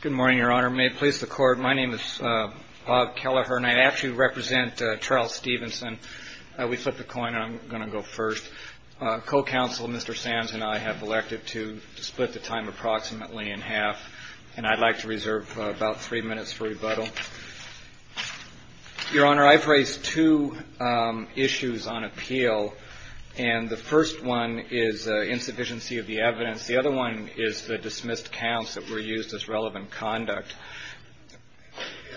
Good morning, Your Honor. May it please the Court, my name is Bob Kelleher and I actually represent Charles Stevenson. We flipped a coin and I'm going to go first. Co-counsel Mr. Sands and I have elected to split the time approximately in half and I'd like to reserve about three minutes for rebuttal. Your Honor, I've raised two issues on appeal and the first one is insufficiency of the evidence. The other one is the dismissed counts that were used as relevant conduct.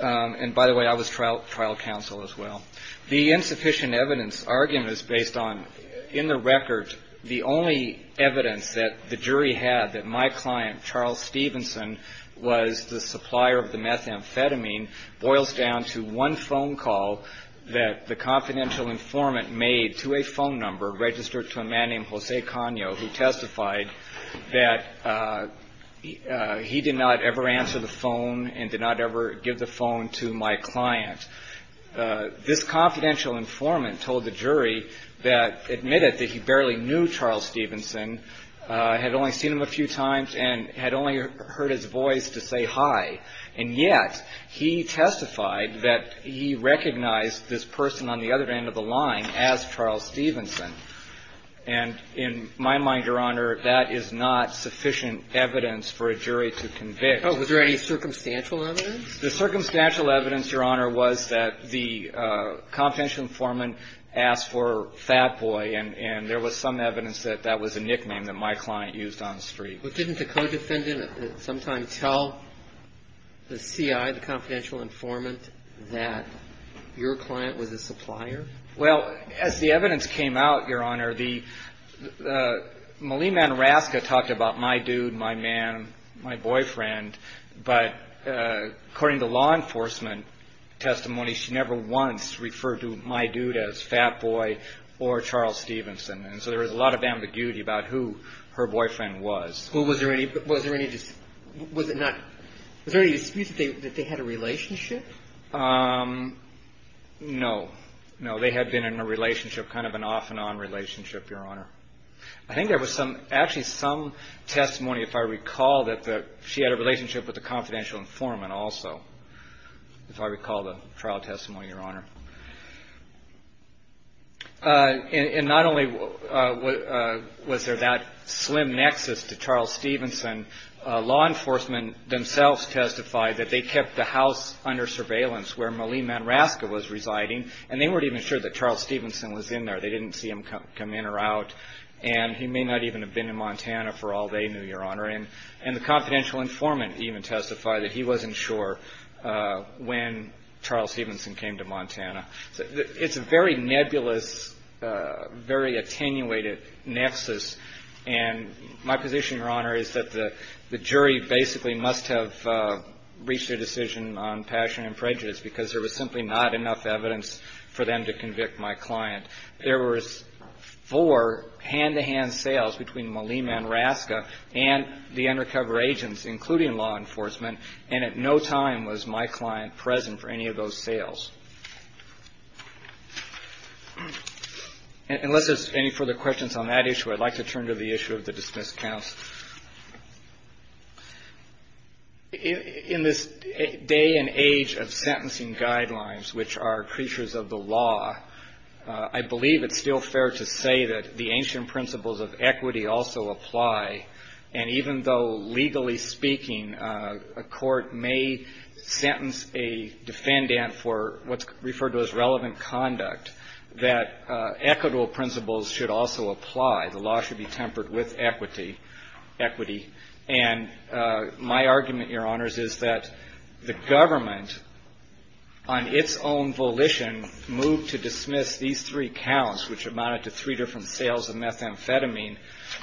And by the way, I was trial counsel as well. The insufficient evidence argument is based on, in the record, the only evidence that the jury had that my client, Charles Stevenson, had a confidential informant who testified that he did not ever answer the phone and did not ever give the phone to my client. This confidential informant told the jury that admitted that he barely knew Charles Stevenson, had only seen him a few times, and had only heard his voice to say hi. And yet, he testified that he recognized this person on the other end of the line as Charles Stevenson. And in my mind, Your Honor, that is not sufficient evidence for a jury to convict. Oh, was there any circumstantial evidence? The circumstantial evidence, Your Honor, was that the confidential informant asked for Fat Boy and there was some evidence that that was a nickname that my client used on the street. But didn't the co-defendant sometime tell the CI, the confidential informant, that your client was a supplier? Well, as the evidence came out, Your Honor, Malia Manoraska talked about my dude, my man, my boyfriend, but according to law enforcement testimony, she never once referred to my dude as Fat Boy or Charles Stevenson. And so there was a lot of ambiguity about who her boyfriend was. Well, was there any dispute that they had a relationship? No. No, they had been in a relationship, kind of an off-and-on relationship, Your Honor. I think there was actually some testimony, if I recall, that she had a relationship with the confidential informant also, if I recall the trial testimony, Your Honor. And not only was there that slim nexus to Charles Stevenson, law enforcement themselves testified that they kept the house under surveillance where Malia Manoraska was residing and they weren't even sure that Charles Stevenson was in there. They didn't see him come in or out and he may not even have been in Montana for all they knew, Your Honor. And the confidential informant even testified that he wasn't sure when Charles Stevenson came to Montana. It's a very nebulous, very attenuated nexus. And my position, Your Honor, is that the jury basically must have reached a decision on passion and prejudice because there was simply not enough evidence for them to convict my client. There were four hand-to-hand sales between Malia Manoraska and the undercover agents, including law enforcement, and at no time was my client present for any of those sales. Unless there's any further questions on that issue, I'd like to turn to the issue of the dismissed counts. In this day and age of sentencing guidelines, which are creatures of the law, I believe it's still fair to say that the ancient principles of equity also apply. And even though, legally speaking, a court may sentence a defendant for what's referred to as relevant conduct, that equitable principles should also apply. The law should be tempered with equity. And my argument, Your Honors, is that the government, on its own volition, moved to dismiss these three counts, which amounted to three different sales of methamphetamine.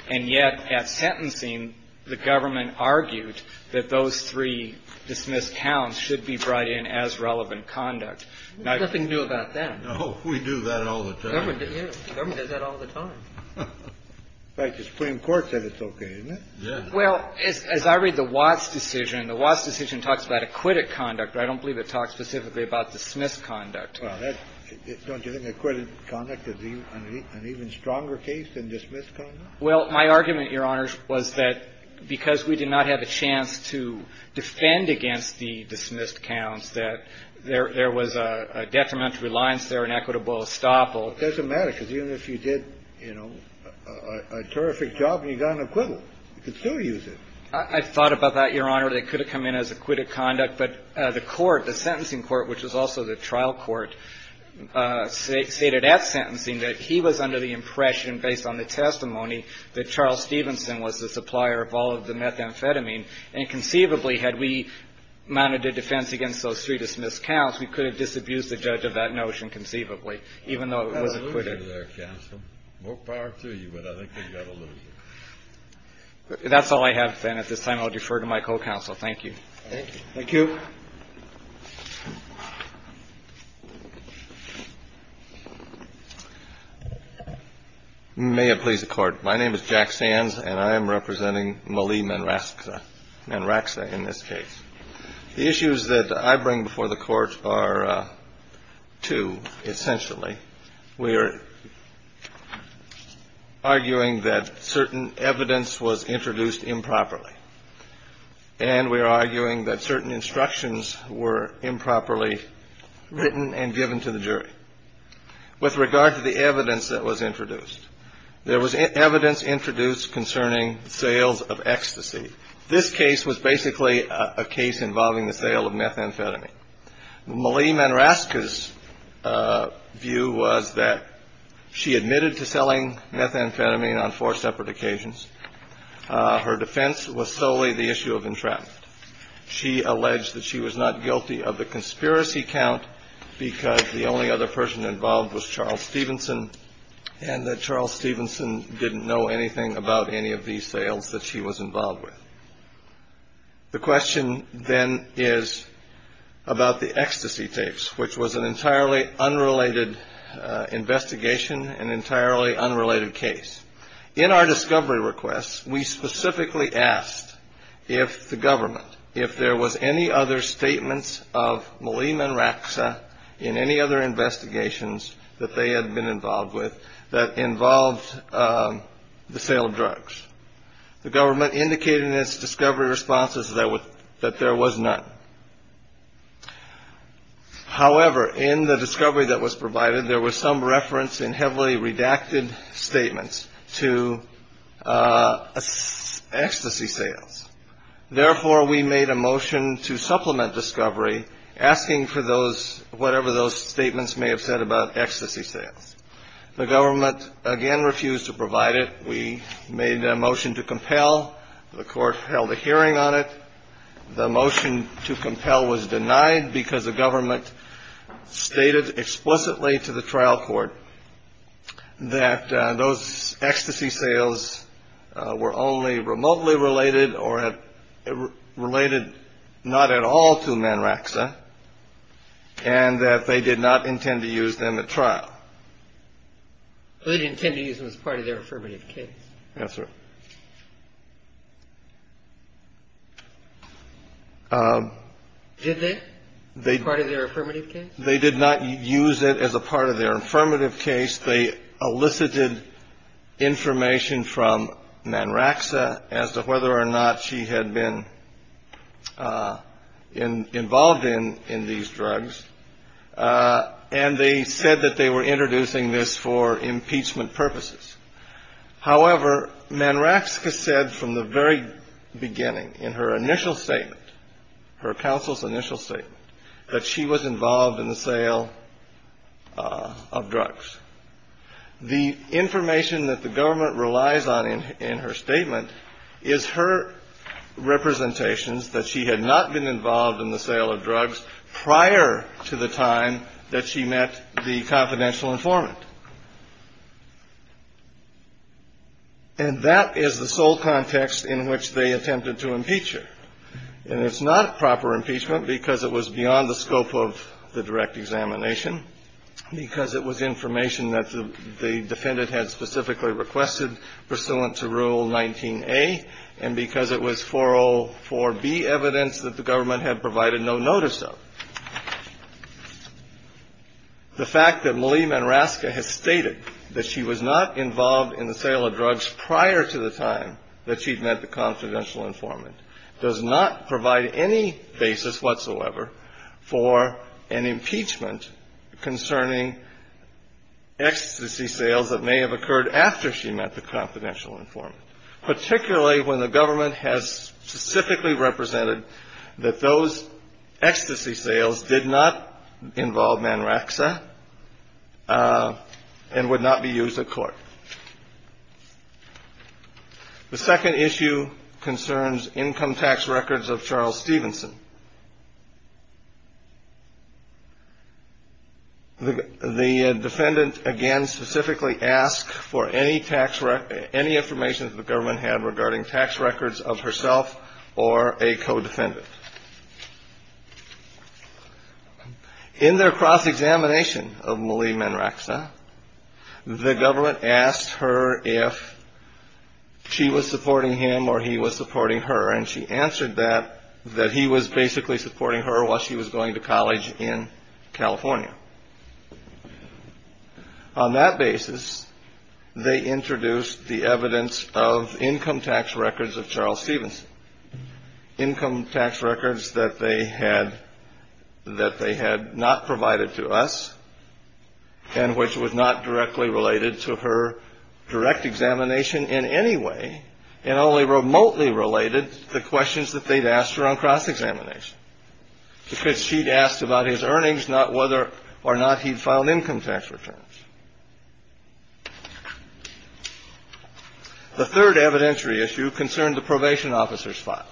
And yet, at sentencing, the government argued that those three dismissed counts should be brought in as relevant conduct. Nothing new about that. No, we do that all the time. Government does that all the time. In fact, the Supreme Court said it's okay, isn't it? Yeah. Well, as I read the Watts decision, the Watts decision talks about acquitted conduct, but I don't believe it talks specifically about dismissed conduct. Well, don't you think acquitted conduct is an even stronger case than dismissed conduct? Well, my argument, Your Honors, was that because we did not have a chance to defend against the dismissed counts, that there was a detrimental reliance there on equitable estoppel. It doesn't matter, because even if you did, you know, a terrific job and you got an acquittal, you could still use it. I thought about that, Your Honor. They could have come in as acquitted conduct, but the court, the sentencing court, which was also the trial court, stated at sentencing that he was under the impression, based on the testimony, that Charles Stevenson was the supplier of all of the methamphetamine. And conceivably, had we mounted a defense against those three dismissed counts, we could have disabused the judge of that notion conceivably, even though it was acquitted. That's a loser there, counsel. More power to you, but I think you've got a loser. That's all I have, then. At this time, I'll defer to my co-counsel. Thank you. Thank you. Thank you. May it please the Court. My name is Jack Sands, and I am representing Malie Manraxa in this case. The issues that I bring before the Court are two, essentially. We are arguing that certain evidence was introduced improperly, and we are arguing that certain instructions were improperly written and given to the jury. With regard to the evidence that was introduced, there was evidence introduced concerning sales of ecstasy. This case was basically a case involving the sale of methamphetamine. Malie Manraxa's view was that she admitted to selling methamphetamine on four separate occasions. Her defense was solely the issue of entrapment. She alleged that she was not guilty of the conspiracy count because the only other person involved was Charles Stevenson, and that Charles Stevenson didn't know anything about any of these sales that she was involved with. The question, then, is about the ecstasy tapes, which was an entirely unrelated investigation, an entirely unrelated case. In our discovery request, we specifically asked if the government, if there was any other statements of Malie Manraxa in any other investigations that they had been involved with that involved the sale of drugs. The government indicated in its discovery responses that there was none. However, in the discovery that was provided, there was some reference in heavily redacted statements to ecstasy sales. Therefore, we made a motion to supplement discovery asking for those, whatever those statements may have said about ecstasy sales. The government, again, refused to provide it. We made a motion to compel. The Court held a hearing on it. The motion to compel was denied because the government stated explicitly to the trial court that those ecstasy sales were only remotely related or related not at all to Manraxa and that they did not intend to use them at trial. They didn't intend to use them as part of their affirmative case. Yes, sir. Did they, as part of their affirmative case? They did not use it as a part of their affirmative case. They elicited information from Manraxa as to whether or not she had been involved in these drugs. And they said that they were introducing this for impeachment purposes. However, Manraxa said from the very beginning in her initial statement, her counsel's initial statement, that she was involved in the sale of drugs. The information that the government relies on in her statement is her representations that she had not been involved in the sale of drugs prior to the time that she met the confidential informant. And that is the sole context in which they attempted to impeach her. And it's not proper impeachment because it was beyond the scope of the direct examination, because it was information that the defendant had specifically requested pursuant to Rule 19A and because it was 404B evidence that the government had provided no notice of. The fact that Malia Manraxa has stated that she was not involved in the sale of drugs prior to the time that she'd met the confidential informant does not provide any basis whatsoever for an impeachment concerning ecstasy sales that may have occurred after she met the confidential informant, particularly when the government has specifically represented that those ecstasy sales did not involve Manraxa and would not be used at court. The second issue concerns income tax records of Charles Stevenson. The defendant, again, specifically asked for any information that the government had regarding tax records of herself or a co-defendant. In their cross-examination of Malia Manraxa, the government asked her if she was supporting him or he was supporting her. And she answered that, that he was basically supporting her while she was going to college in California. On that basis, they introduced the evidence of income tax records of Charles Stevenson. Income tax records that they had not provided to us and which was not directly related to her direct examination in any way and only remotely related to questions that they'd asked her on cross-examination, because she'd asked about his earnings, not whether or not he'd filed income tax returns. The third evidentiary issue concerned the probation officer's file.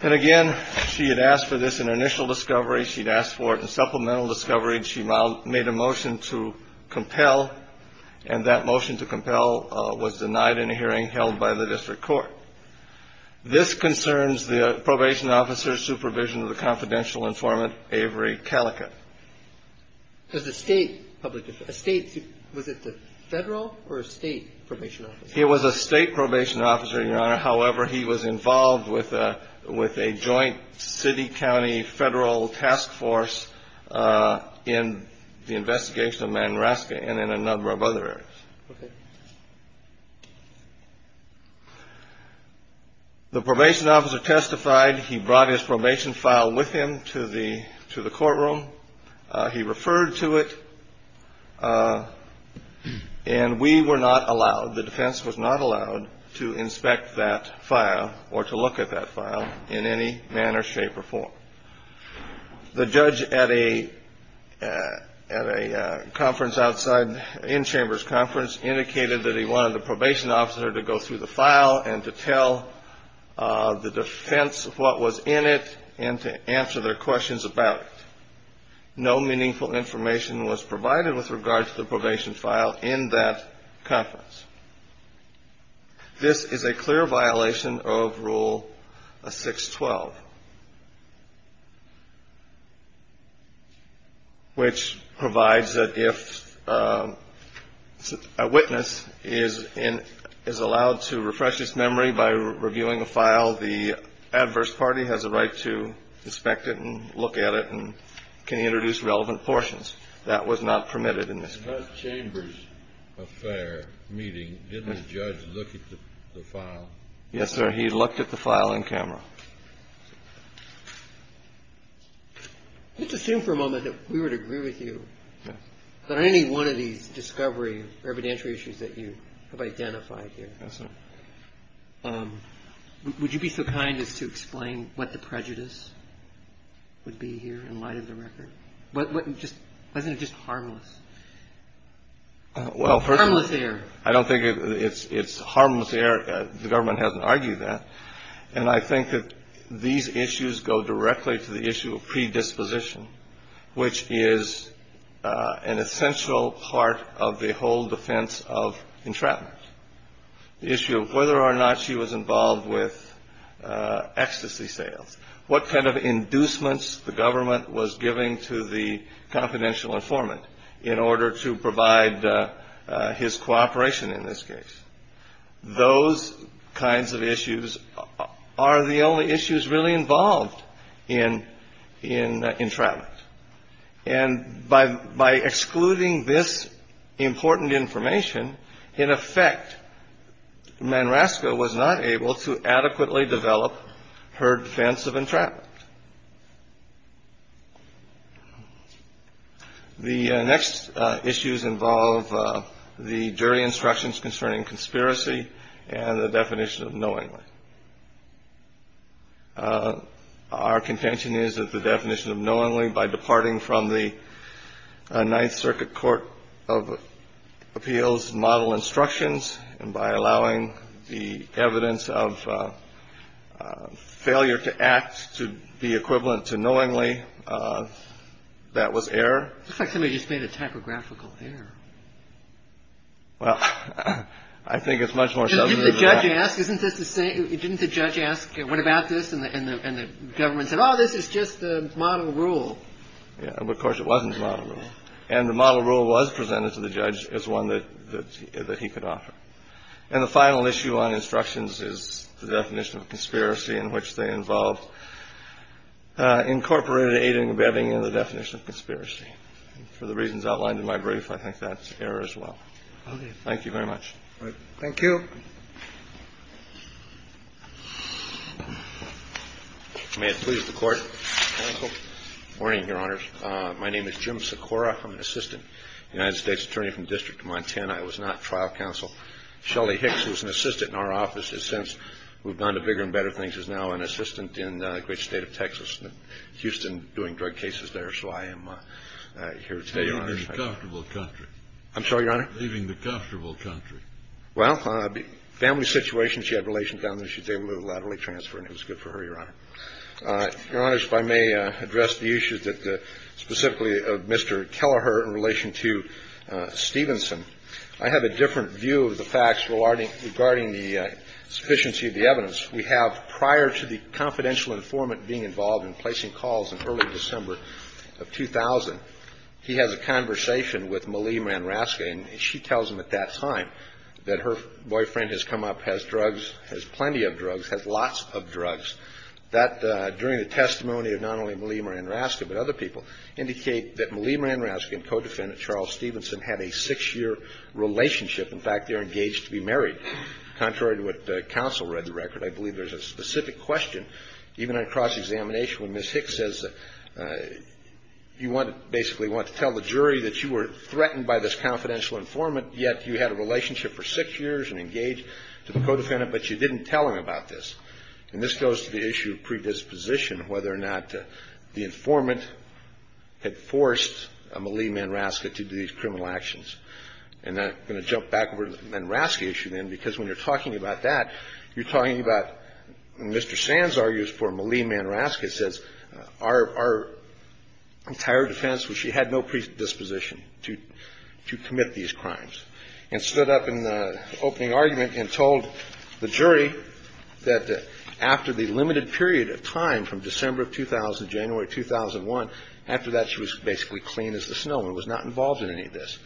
And, again, she had asked for this in her initial discovery. She'd asked for it in supplemental discovery, and she made a motion to compel, and that motion to compel was denied in a hearing held by the district court. This concerns the probation officer's supervision of the confidential informant, Avery Callica. Was it the federal or state probation officer? It was a state probation officer, Your Honor. However, he was involved with a joint city-county federal task force in the investigation of Manraxa and in a number of other areas. Okay. The probation officer testified. He brought his probation file with him to the courtroom. He referred to it, and we were not allowed, the defense was not allowed, to inspect that file or to look at that file in any manner, shape, or form. The judge at a conference outside, in-chambers conference, indicated that he wanted the probation officer to go through the file and to tell the defense what was in it and to answer their questions about it. No meaningful information was provided with regard to the probation file in that conference. This is a clear violation of Rule 612, which provides that if a witness is allowed to refresh his memory by reviewing a file, the adverse party has a right to inspect it and look at it and can introduce relevant portions. That was not permitted in this case. In that chambers affair meeting, didn't the judge look at the file? Yes, sir. He looked at the file on camera. Let's assume for a moment that we would agree with you that any one of these discovery or evidentiary issues that you have identified here. Yes, sir. Would you be so kind as to explain what the prejudice would be here in light of the record? Wasn't it just harmless? Well, first of all, I don't think it's harmless error. The government hasn't argued that. And I think that these issues go directly to the issue of predisposition, which is an essential part of the whole defense of entrapment. The issue of whether or not she was involved with ecstasy sales, what kind of inducements the government was giving to the confidential informant in order to provide his cooperation in this case. Those kinds of issues are the only issues really involved in entrapment. And by excluding this important information, in effect, Manrasco was not able to adequately develop her defense of entrapment. The next issues involve the jury instructions concerning conspiracy and the definition of knowingly. Our contention is that the definition of knowingly, by departing from the Ninth Circuit Court of Appeals model instructions and by allowing the evidence of failure to act to be equivalent to knowingly, that was error. It looks like somebody just made a typographical error. Well, I think it's much more subtle than that. Didn't the judge ask what about this? And the government said, oh, this is just the model rule. Of course, it wasn't the model rule. And the model rule was presented to the judge as one that he could offer. And the final issue on instructions is the definition of conspiracy in which they involved incorporated aiding and abetting in the definition of conspiracy. For the reasons outlined in my brief, I think that's error as well. Thank you very much. Thank you. May it please the Court. Good morning, Your Honors. My name is Jim Sikora. I'm an assistant United States Attorney from the District of Montana. I was not trial counsel. Shelley Hicks, who's an assistant in our office, has since moved on to bigger and better things, is now an assistant in the great state of Texas, Houston, doing drug cases there. So I am here today, Your Honors. Leaving the comfortable country. I'm sorry, Your Honor? Leaving the comfortable country. Well, family situation, she had relations down there. She was able to do a lot of transfer, and it was good for her, Your Honor. Your Honors, if I may address the issues that specifically of Mr. Kelleher in relation to Stevenson. I have a different view of the facts regarding the sufficiency of the evidence. We have prior to the confidential informant being involved in placing calls in early December of 2000, he has a conversation with Malie Manrasca, and she tells him at that time that her boyfriend has come up, has drugs, has plenty of drugs, has lots of drugs. That, during the testimony of not only Malie Manrasca but other people, indicate that Malie Manrasca and co-defendant Charles Stevenson had a six-year relationship. In fact, they're engaged to be married. Contrary to what the counsel read in the record, I believe there's a specific question, even in a cross-examination, when Ms. Hicks says that you basically want to tell the jury that you were threatened by this confidential informant, yet you had a relationship for six years and engaged to the co-defendant, but you didn't tell him about this. And this goes to the issue of predisposition, whether or not the informant had forced Malie Manrasca to do these criminal actions. And I'm going to jump back over to the Manrasca issue, then, because when you're talking about that, you're talking about Mr. Sand's arguments for Malie Manrasca says our entire defense was she had no predisposition to commit these crimes, and stood up in the opening argument and told the jury that after the limited period of time from December of 2000 to January of 2001, after that she was basically clean as the snow and was not involved in any of this,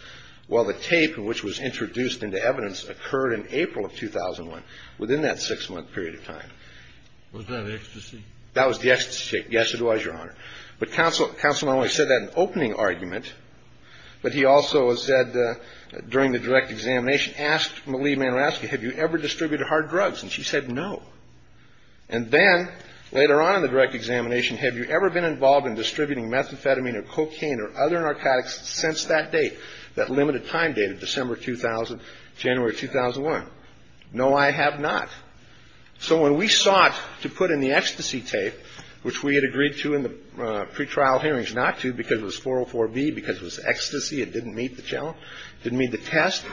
while the tape, which was introduced into evidence, occurred in April of 2001, within that six-month period of time. Was that ecstasy? That was the ecstasy. Yes, it was, Your Honor. But counsel not only said that in the opening argument, but he also said during the direct examination, asked Malie Manrasca, have you ever distributed hard drugs? And she said no. And then, later on in the direct examination, have you ever been involved in distributing methamphetamine or cocaine or other narcotics since that date, that limited time date of December 2000, January 2001? No, I have not. So when we sought to put in the ecstasy tape, which we had agreed to in the pretrial hearings not to because it was 404B, because it was ecstasy, it didn't meet the challenge, didn't meet the test.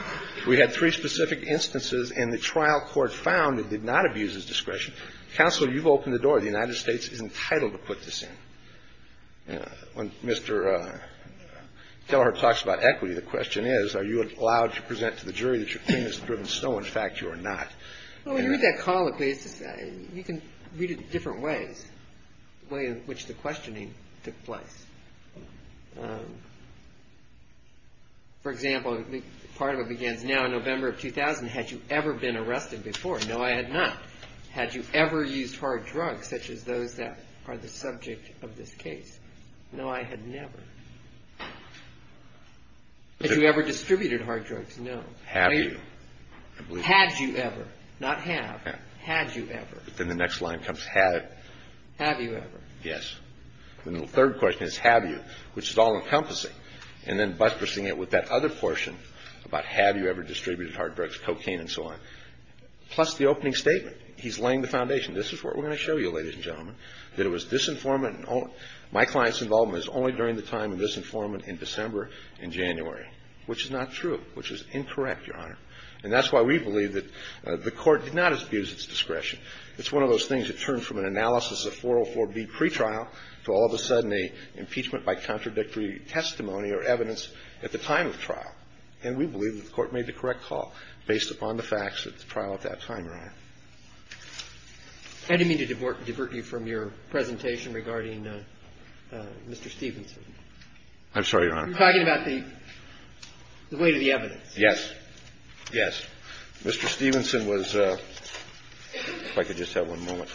We had three specific instances, and the trial court found it did not abuse his discretion. Counsel, you've opened the door. The United States is entitled to put this in. When Mr. Teller talks about equity, the question is, are you allowed to present to the jury that you're clean as the driven snow? In fact, you are not. Well, when you read that call, you can read it in different ways, the way in which the questioning took place. For example, part of it begins, now in November of 2000, had you ever been arrested before? No, I had not. Had you ever used hard drugs, such as those that are the subject of this case? No, I had never. Had you ever distributed hard drugs? No. Have you? Had you ever? Not have. Had you ever? Then the next line comes, had. Have you ever? Yes. The third question is, have you, which is all-encompassing, and then buttressing it with that other portion about have you ever distributed hard drugs, cocaine and so on. Plus the opening statement. He's laying the foundation. This is what we're going to show you, ladies and gentlemen, that it was disinformant and my client's involvement is only during the time of disinformant in December and January, which is not true, which is incorrect, Your Honor. And that's why we believe that the court did not abuse its discretion. It's one of those things that turn from an analysis of 404B pretrial to all of a sudden an impeachment by contradictory testimony or evidence at the time of trial. And we believe that the court made the correct call based upon the facts at the trial at that time, Your Honor. I didn't mean to divert you from your presentation regarding Mr. Stevenson. I'm sorry, Your Honor. You're talking about the weight of the evidence. Yes. Yes. Mr. Stevenson was ñ if I could just have one moment.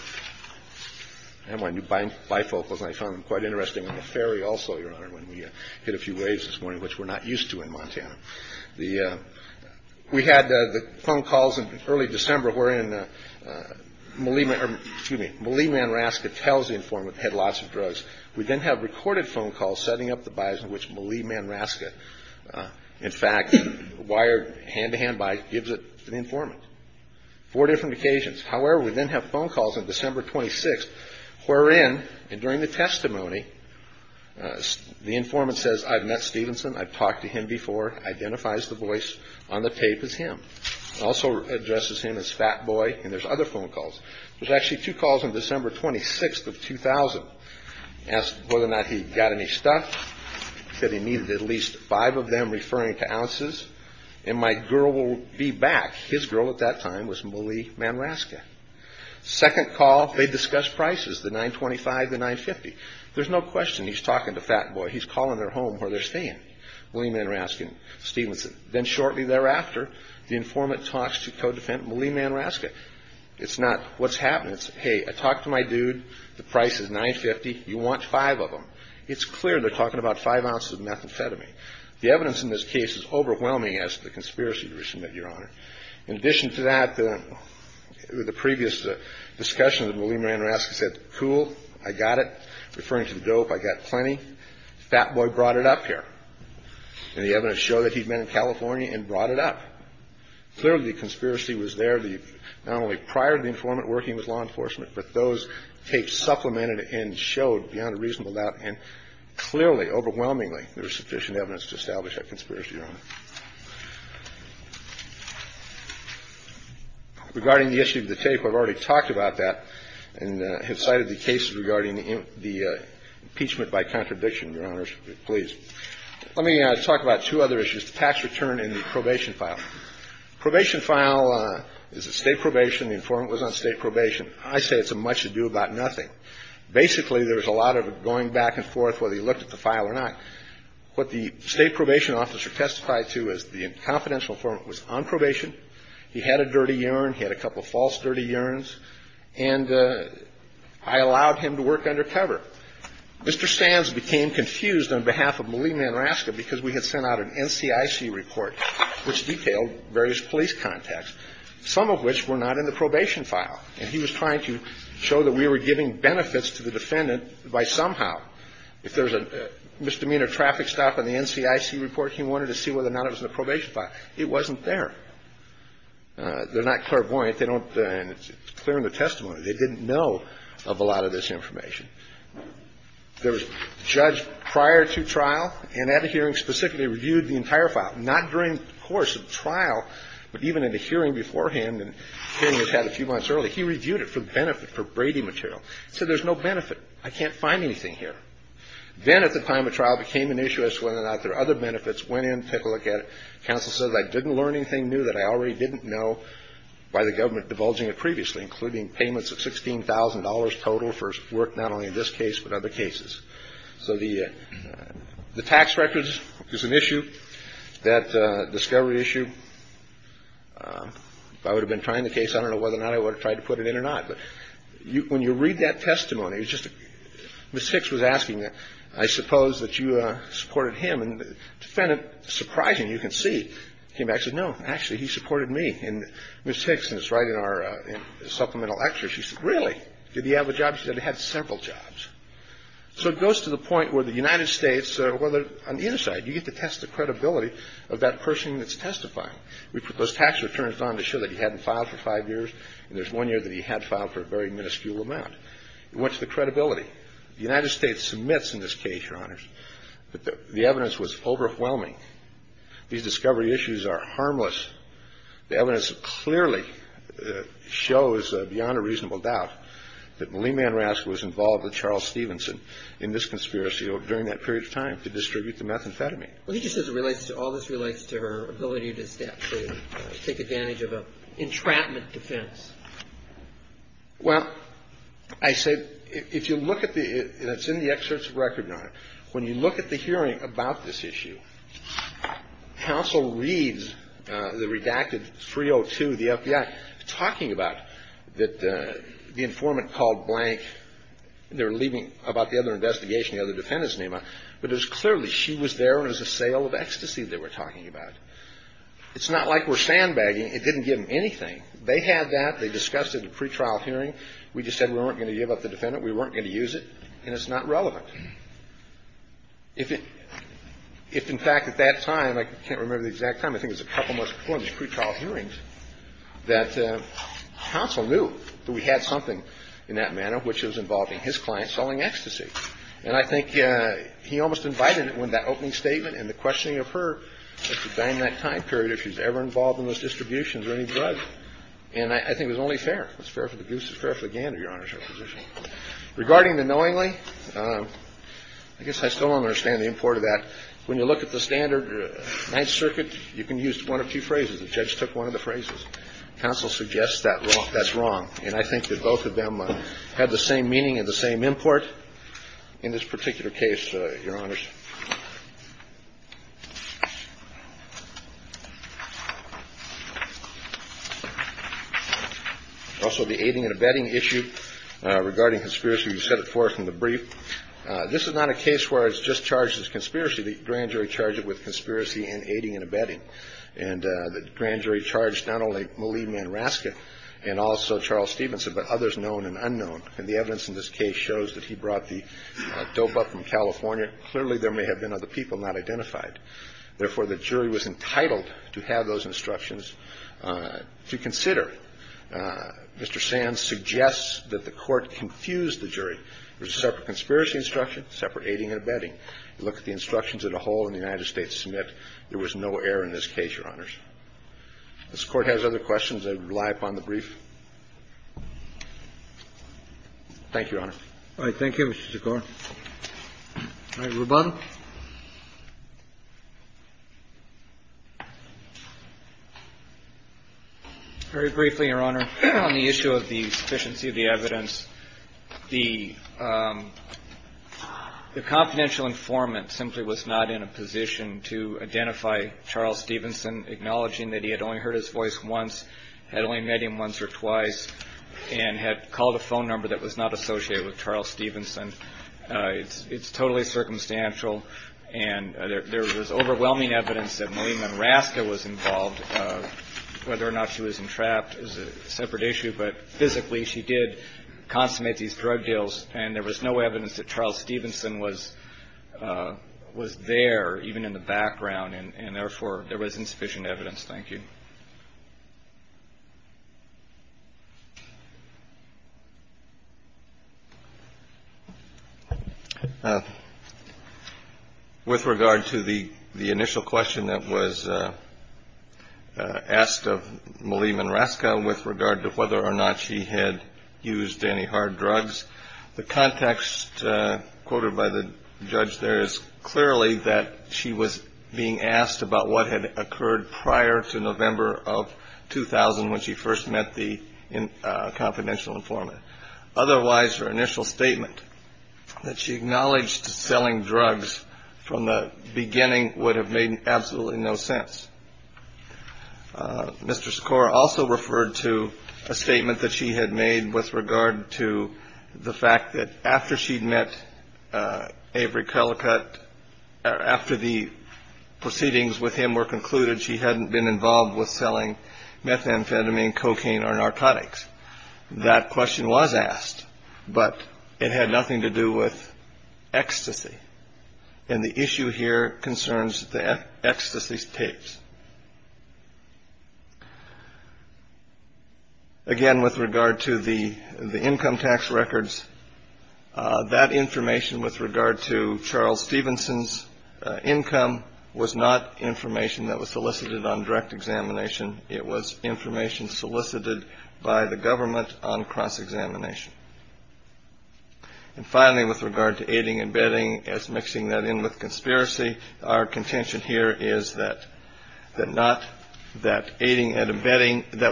I have my new bifocals, and I found them quite interesting on the ferry also, Your Honor, when we hit a few waves this morning, which we're not used to in Montana. We had the phone calls in early December wherein Malie Manraska tells the informant they had lots of drugs. We then have recorded phone calls setting up the bias in which Malie Manraska, in fact, wired hand-to-hand by ñ gives it to the informant. Four different occasions. However, we then have phone calls on December 26th wherein, and during the testimony, the informant says, I've met Stevenson, I've talked to him before, identifies the voice on the tape as him. Also addresses him as Fat Boy, and there's other phone calls. There's actually two calls on December 26th of 2000 as to whether or not he got any He said he needed at least five of them referring to ounces, and my girl will be back. His girl at that time was Malie Manraska. Second call, they discuss prices, the $9.25, the $9.50. There's no question he's talking to Fat Boy. He's calling their home where they're staying, Malie Manraska and Stevenson. Then shortly thereafter, the informant talks to co-defendant Malie Manraska. It's not what's happening. It's, hey, I talked to my dude. The price is $9.50. You want five of them. It's clear they're talking about five ounces of methamphetamine. The evidence in this case is overwhelming as to the conspiracy to resubmit, Your Honor. In addition to that, the previous discussion of Malie Manraska said, cool, I got it. Referring to the dope, I got plenty. Fat Boy brought it up here. And the evidence showed that he'd been in California and brought it up. Clearly, the conspiracy was there not only prior to the informant working with law enforcement, but those tapes supplemented and showed beyond a reasonable doubt and clearly, overwhelmingly, there was sufficient evidence to establish that conspiracy, Your Honor. Regarding the issue of the tape, I've already talked about that and have cited the cases regarding the impeachment by contradiction, Your Honors, please. Let me talk about two other issues, the tax return and the probation file. Probation file is a state probation. The informant was on state probation. I say it's a much ado about nothing. Basically, there's a lot of going back and forth whether he looked at the file or not. What the state probation officer testified to is the confidential informant was on probation. He had a dirty urine. He had a couple of false dirty urines. And I allowed him to work undercover. Mr. Stanz became confused on behalf of Malie Manraska because we had sent out an NCIC report, which detailed various police contacts, some of which were not in the probation file. And he was trying to show that we were giving benefits to the defendant by somehow. If there's a misdemeanor traffic stop on the NCIC report, he wanted to see whether or not it was in the probation file. It wasn't there. They're not clairvoyant. They don't and it's clear in the testimony. They didn't know of a lot of this information. There was a judge prior to trial and at a hearing specifically reviewed the entire file, not during the course of the trial, but even in the hearing beforehand and hearing was had a few months earlier. He reviewed it for benefit, for Brady material. He said there's no benefit. I can't find anything here. Then at the time of trial it became an issue as to whether or not there are other benefits. Went in, took a look at it. Counsel said I didn't learn anything new that I already didn't know by the government divulging it previously, including payments of $16,000 total for work not only in this case but other cases. So the tax records is an issue. That discovery issue, if I would have been trying the case, I don't know whether or not I would have tried to put it in or not. But when you read that testimony, it's just Ms. Hicks was asking, I suppose that you supported him. And it's kind of surprising. You can see. Came back and said, no, actually he supported me. And Ms. Hicks, and it's right in our supplemental lecture, she said, really? Did he have a job? She said he had several jobs. So it goes to the point where the United States, whether on the inside you get to test the credibility of that person that's testifying. We put those tax returns on to show that he hadn't filed for five years, and there's one year that he had filed for a very minuscule amount. It went to the credibility. The United States submits in this case, Your Honors, that the evidence was overwhelming. These discovery issues are harmless. The evidence clearly shows, beyond a reasonable doubt, that Lee Manrask was involved with Charles Stevenson in this conspiracy during that period of time to distribute the methamphetamine. And he just says it relates to, all this relates to her ability to step through and take advantage of an entrapment defense. Well, I say, if you look at the, and it's in the excerpts of record, Your Honor, when you look at the hearing about this issue, counsel reads the redacted 302, the FBI, talking about that the informant called blank. They were leaving about the other investigation, the other defendants, Neema. But it was clearly she was there and it was a sale of ecstasy they were talking about. It's not like we're sandbagging. It didn't give them anything. They had that. They discussed it in the pretrial hearing. We just said we weren't going to give up the defendant, we weren't going to use it, and it's not relevant. If in fact at that time, I can't remember the exact time, I think it was a couple months before in the pretrial hearings, that counsel knew that we had something in that manner which was involving his client selling ecstasy. And I think he almost invited it with that opening statement and the questioning of her as to, during that time period, if she was ever involved in those distributions or any drugs. And I think it was only fair. It was fair for the goose. It was fair for the gander, Your Honor's position. Regarding the knowingly, I guess I still don't understand the import of that. When you look at the standard Ninth Circuit, you can use one of two phrases. The judge took one of the phrases. Counsel suggests that's wrong. And I think that both of them have the same meaning and the same import in this particular case, Your Honors. Also, the aiding and abetting issue regarding conspiracy, you set it forth in the brief. This is not a case where it's just charges of conspiracy. The grand jury charged it with conspiracy and aiding and abetting. And the grand jury charged not only Malia Manraska and also Charles Stevenson, but others known and unknown. And the evidence in this case shows that he brought the dope up from California. Clearly, there may have been other people not identified. Therefore, the jury was entitled to have those instructions to consider. Mr. Sands suggests that the Court confused the jury. There's a separate conspiracy instruction, separate aiding and abetting. You look at the instructions that a whole in the United States submit. There was no error in this case, Your Honors. If this Court has other questions, I would rely upon the brief. Thank you, Your Honor. All right. Thank you, Mr. Sikor. All right. Ruban. Very briefly, Your Honor, on the issue of the sufficiency of the evidence, the confidential informant simply was not in a position to identify Charles Stevenson, acknowledging that he had only heard his voice once, had only met him once or twice, and had called a phone number that was not associated with Charles Stevenson. It's totally circumstantial. And there was overwhelming evidence that Malia Manraska was involved. Whether or not she was entrapped is a separate issue. But physically, she did consummate these drug deals, and there was no evidence that Charles Stevenson was there, even in the background. And therefore, there was insufficient evidence. Thank you. With regard to the initial question that was asked of Malia Manraska with regard to whether or not she had used any hard drugs, the context quoted by the judge there is clearly that she was being asked about what had occurred prior to November of 2000 when she first met the confidential informant. Otherwise, her initial statement that she acknowledged selling drugs from the beginning would have made absolutely no sense. Mr. Skor also referred to a statement that she had made with regard to the fact that after she'd met Avery Collicutt or after the proceedings with him were concluded, she hadn't been involved with selling methamphetamine, cocaine, or narcotics. That question was asked, but it had nothing to do with ecstasy. And the issue here concerns the ecstasy tapes. Again, with regard to the income tax records, that information with regard to Charles Stevenson's income was not information that was solicited on direct examination. It was information solicited by the government on cross-examination. And finally, with regard to aiding and abetting as mixing that in with conspiracy, our contention here is that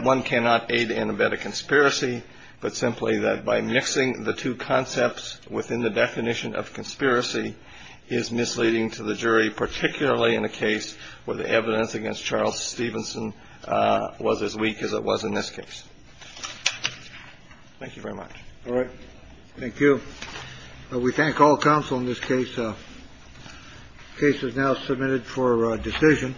one cannot aid and abet a conspiracy, but simply that by mixing the two concepts within the definition of conspiracy is misleading to the jury, particularly in a case where the evidence against Charles Stevenson was as weak as it was in this case. Thank you very much. All right. Thank you. We thank all counsel in this case. Case is now submitted for decision.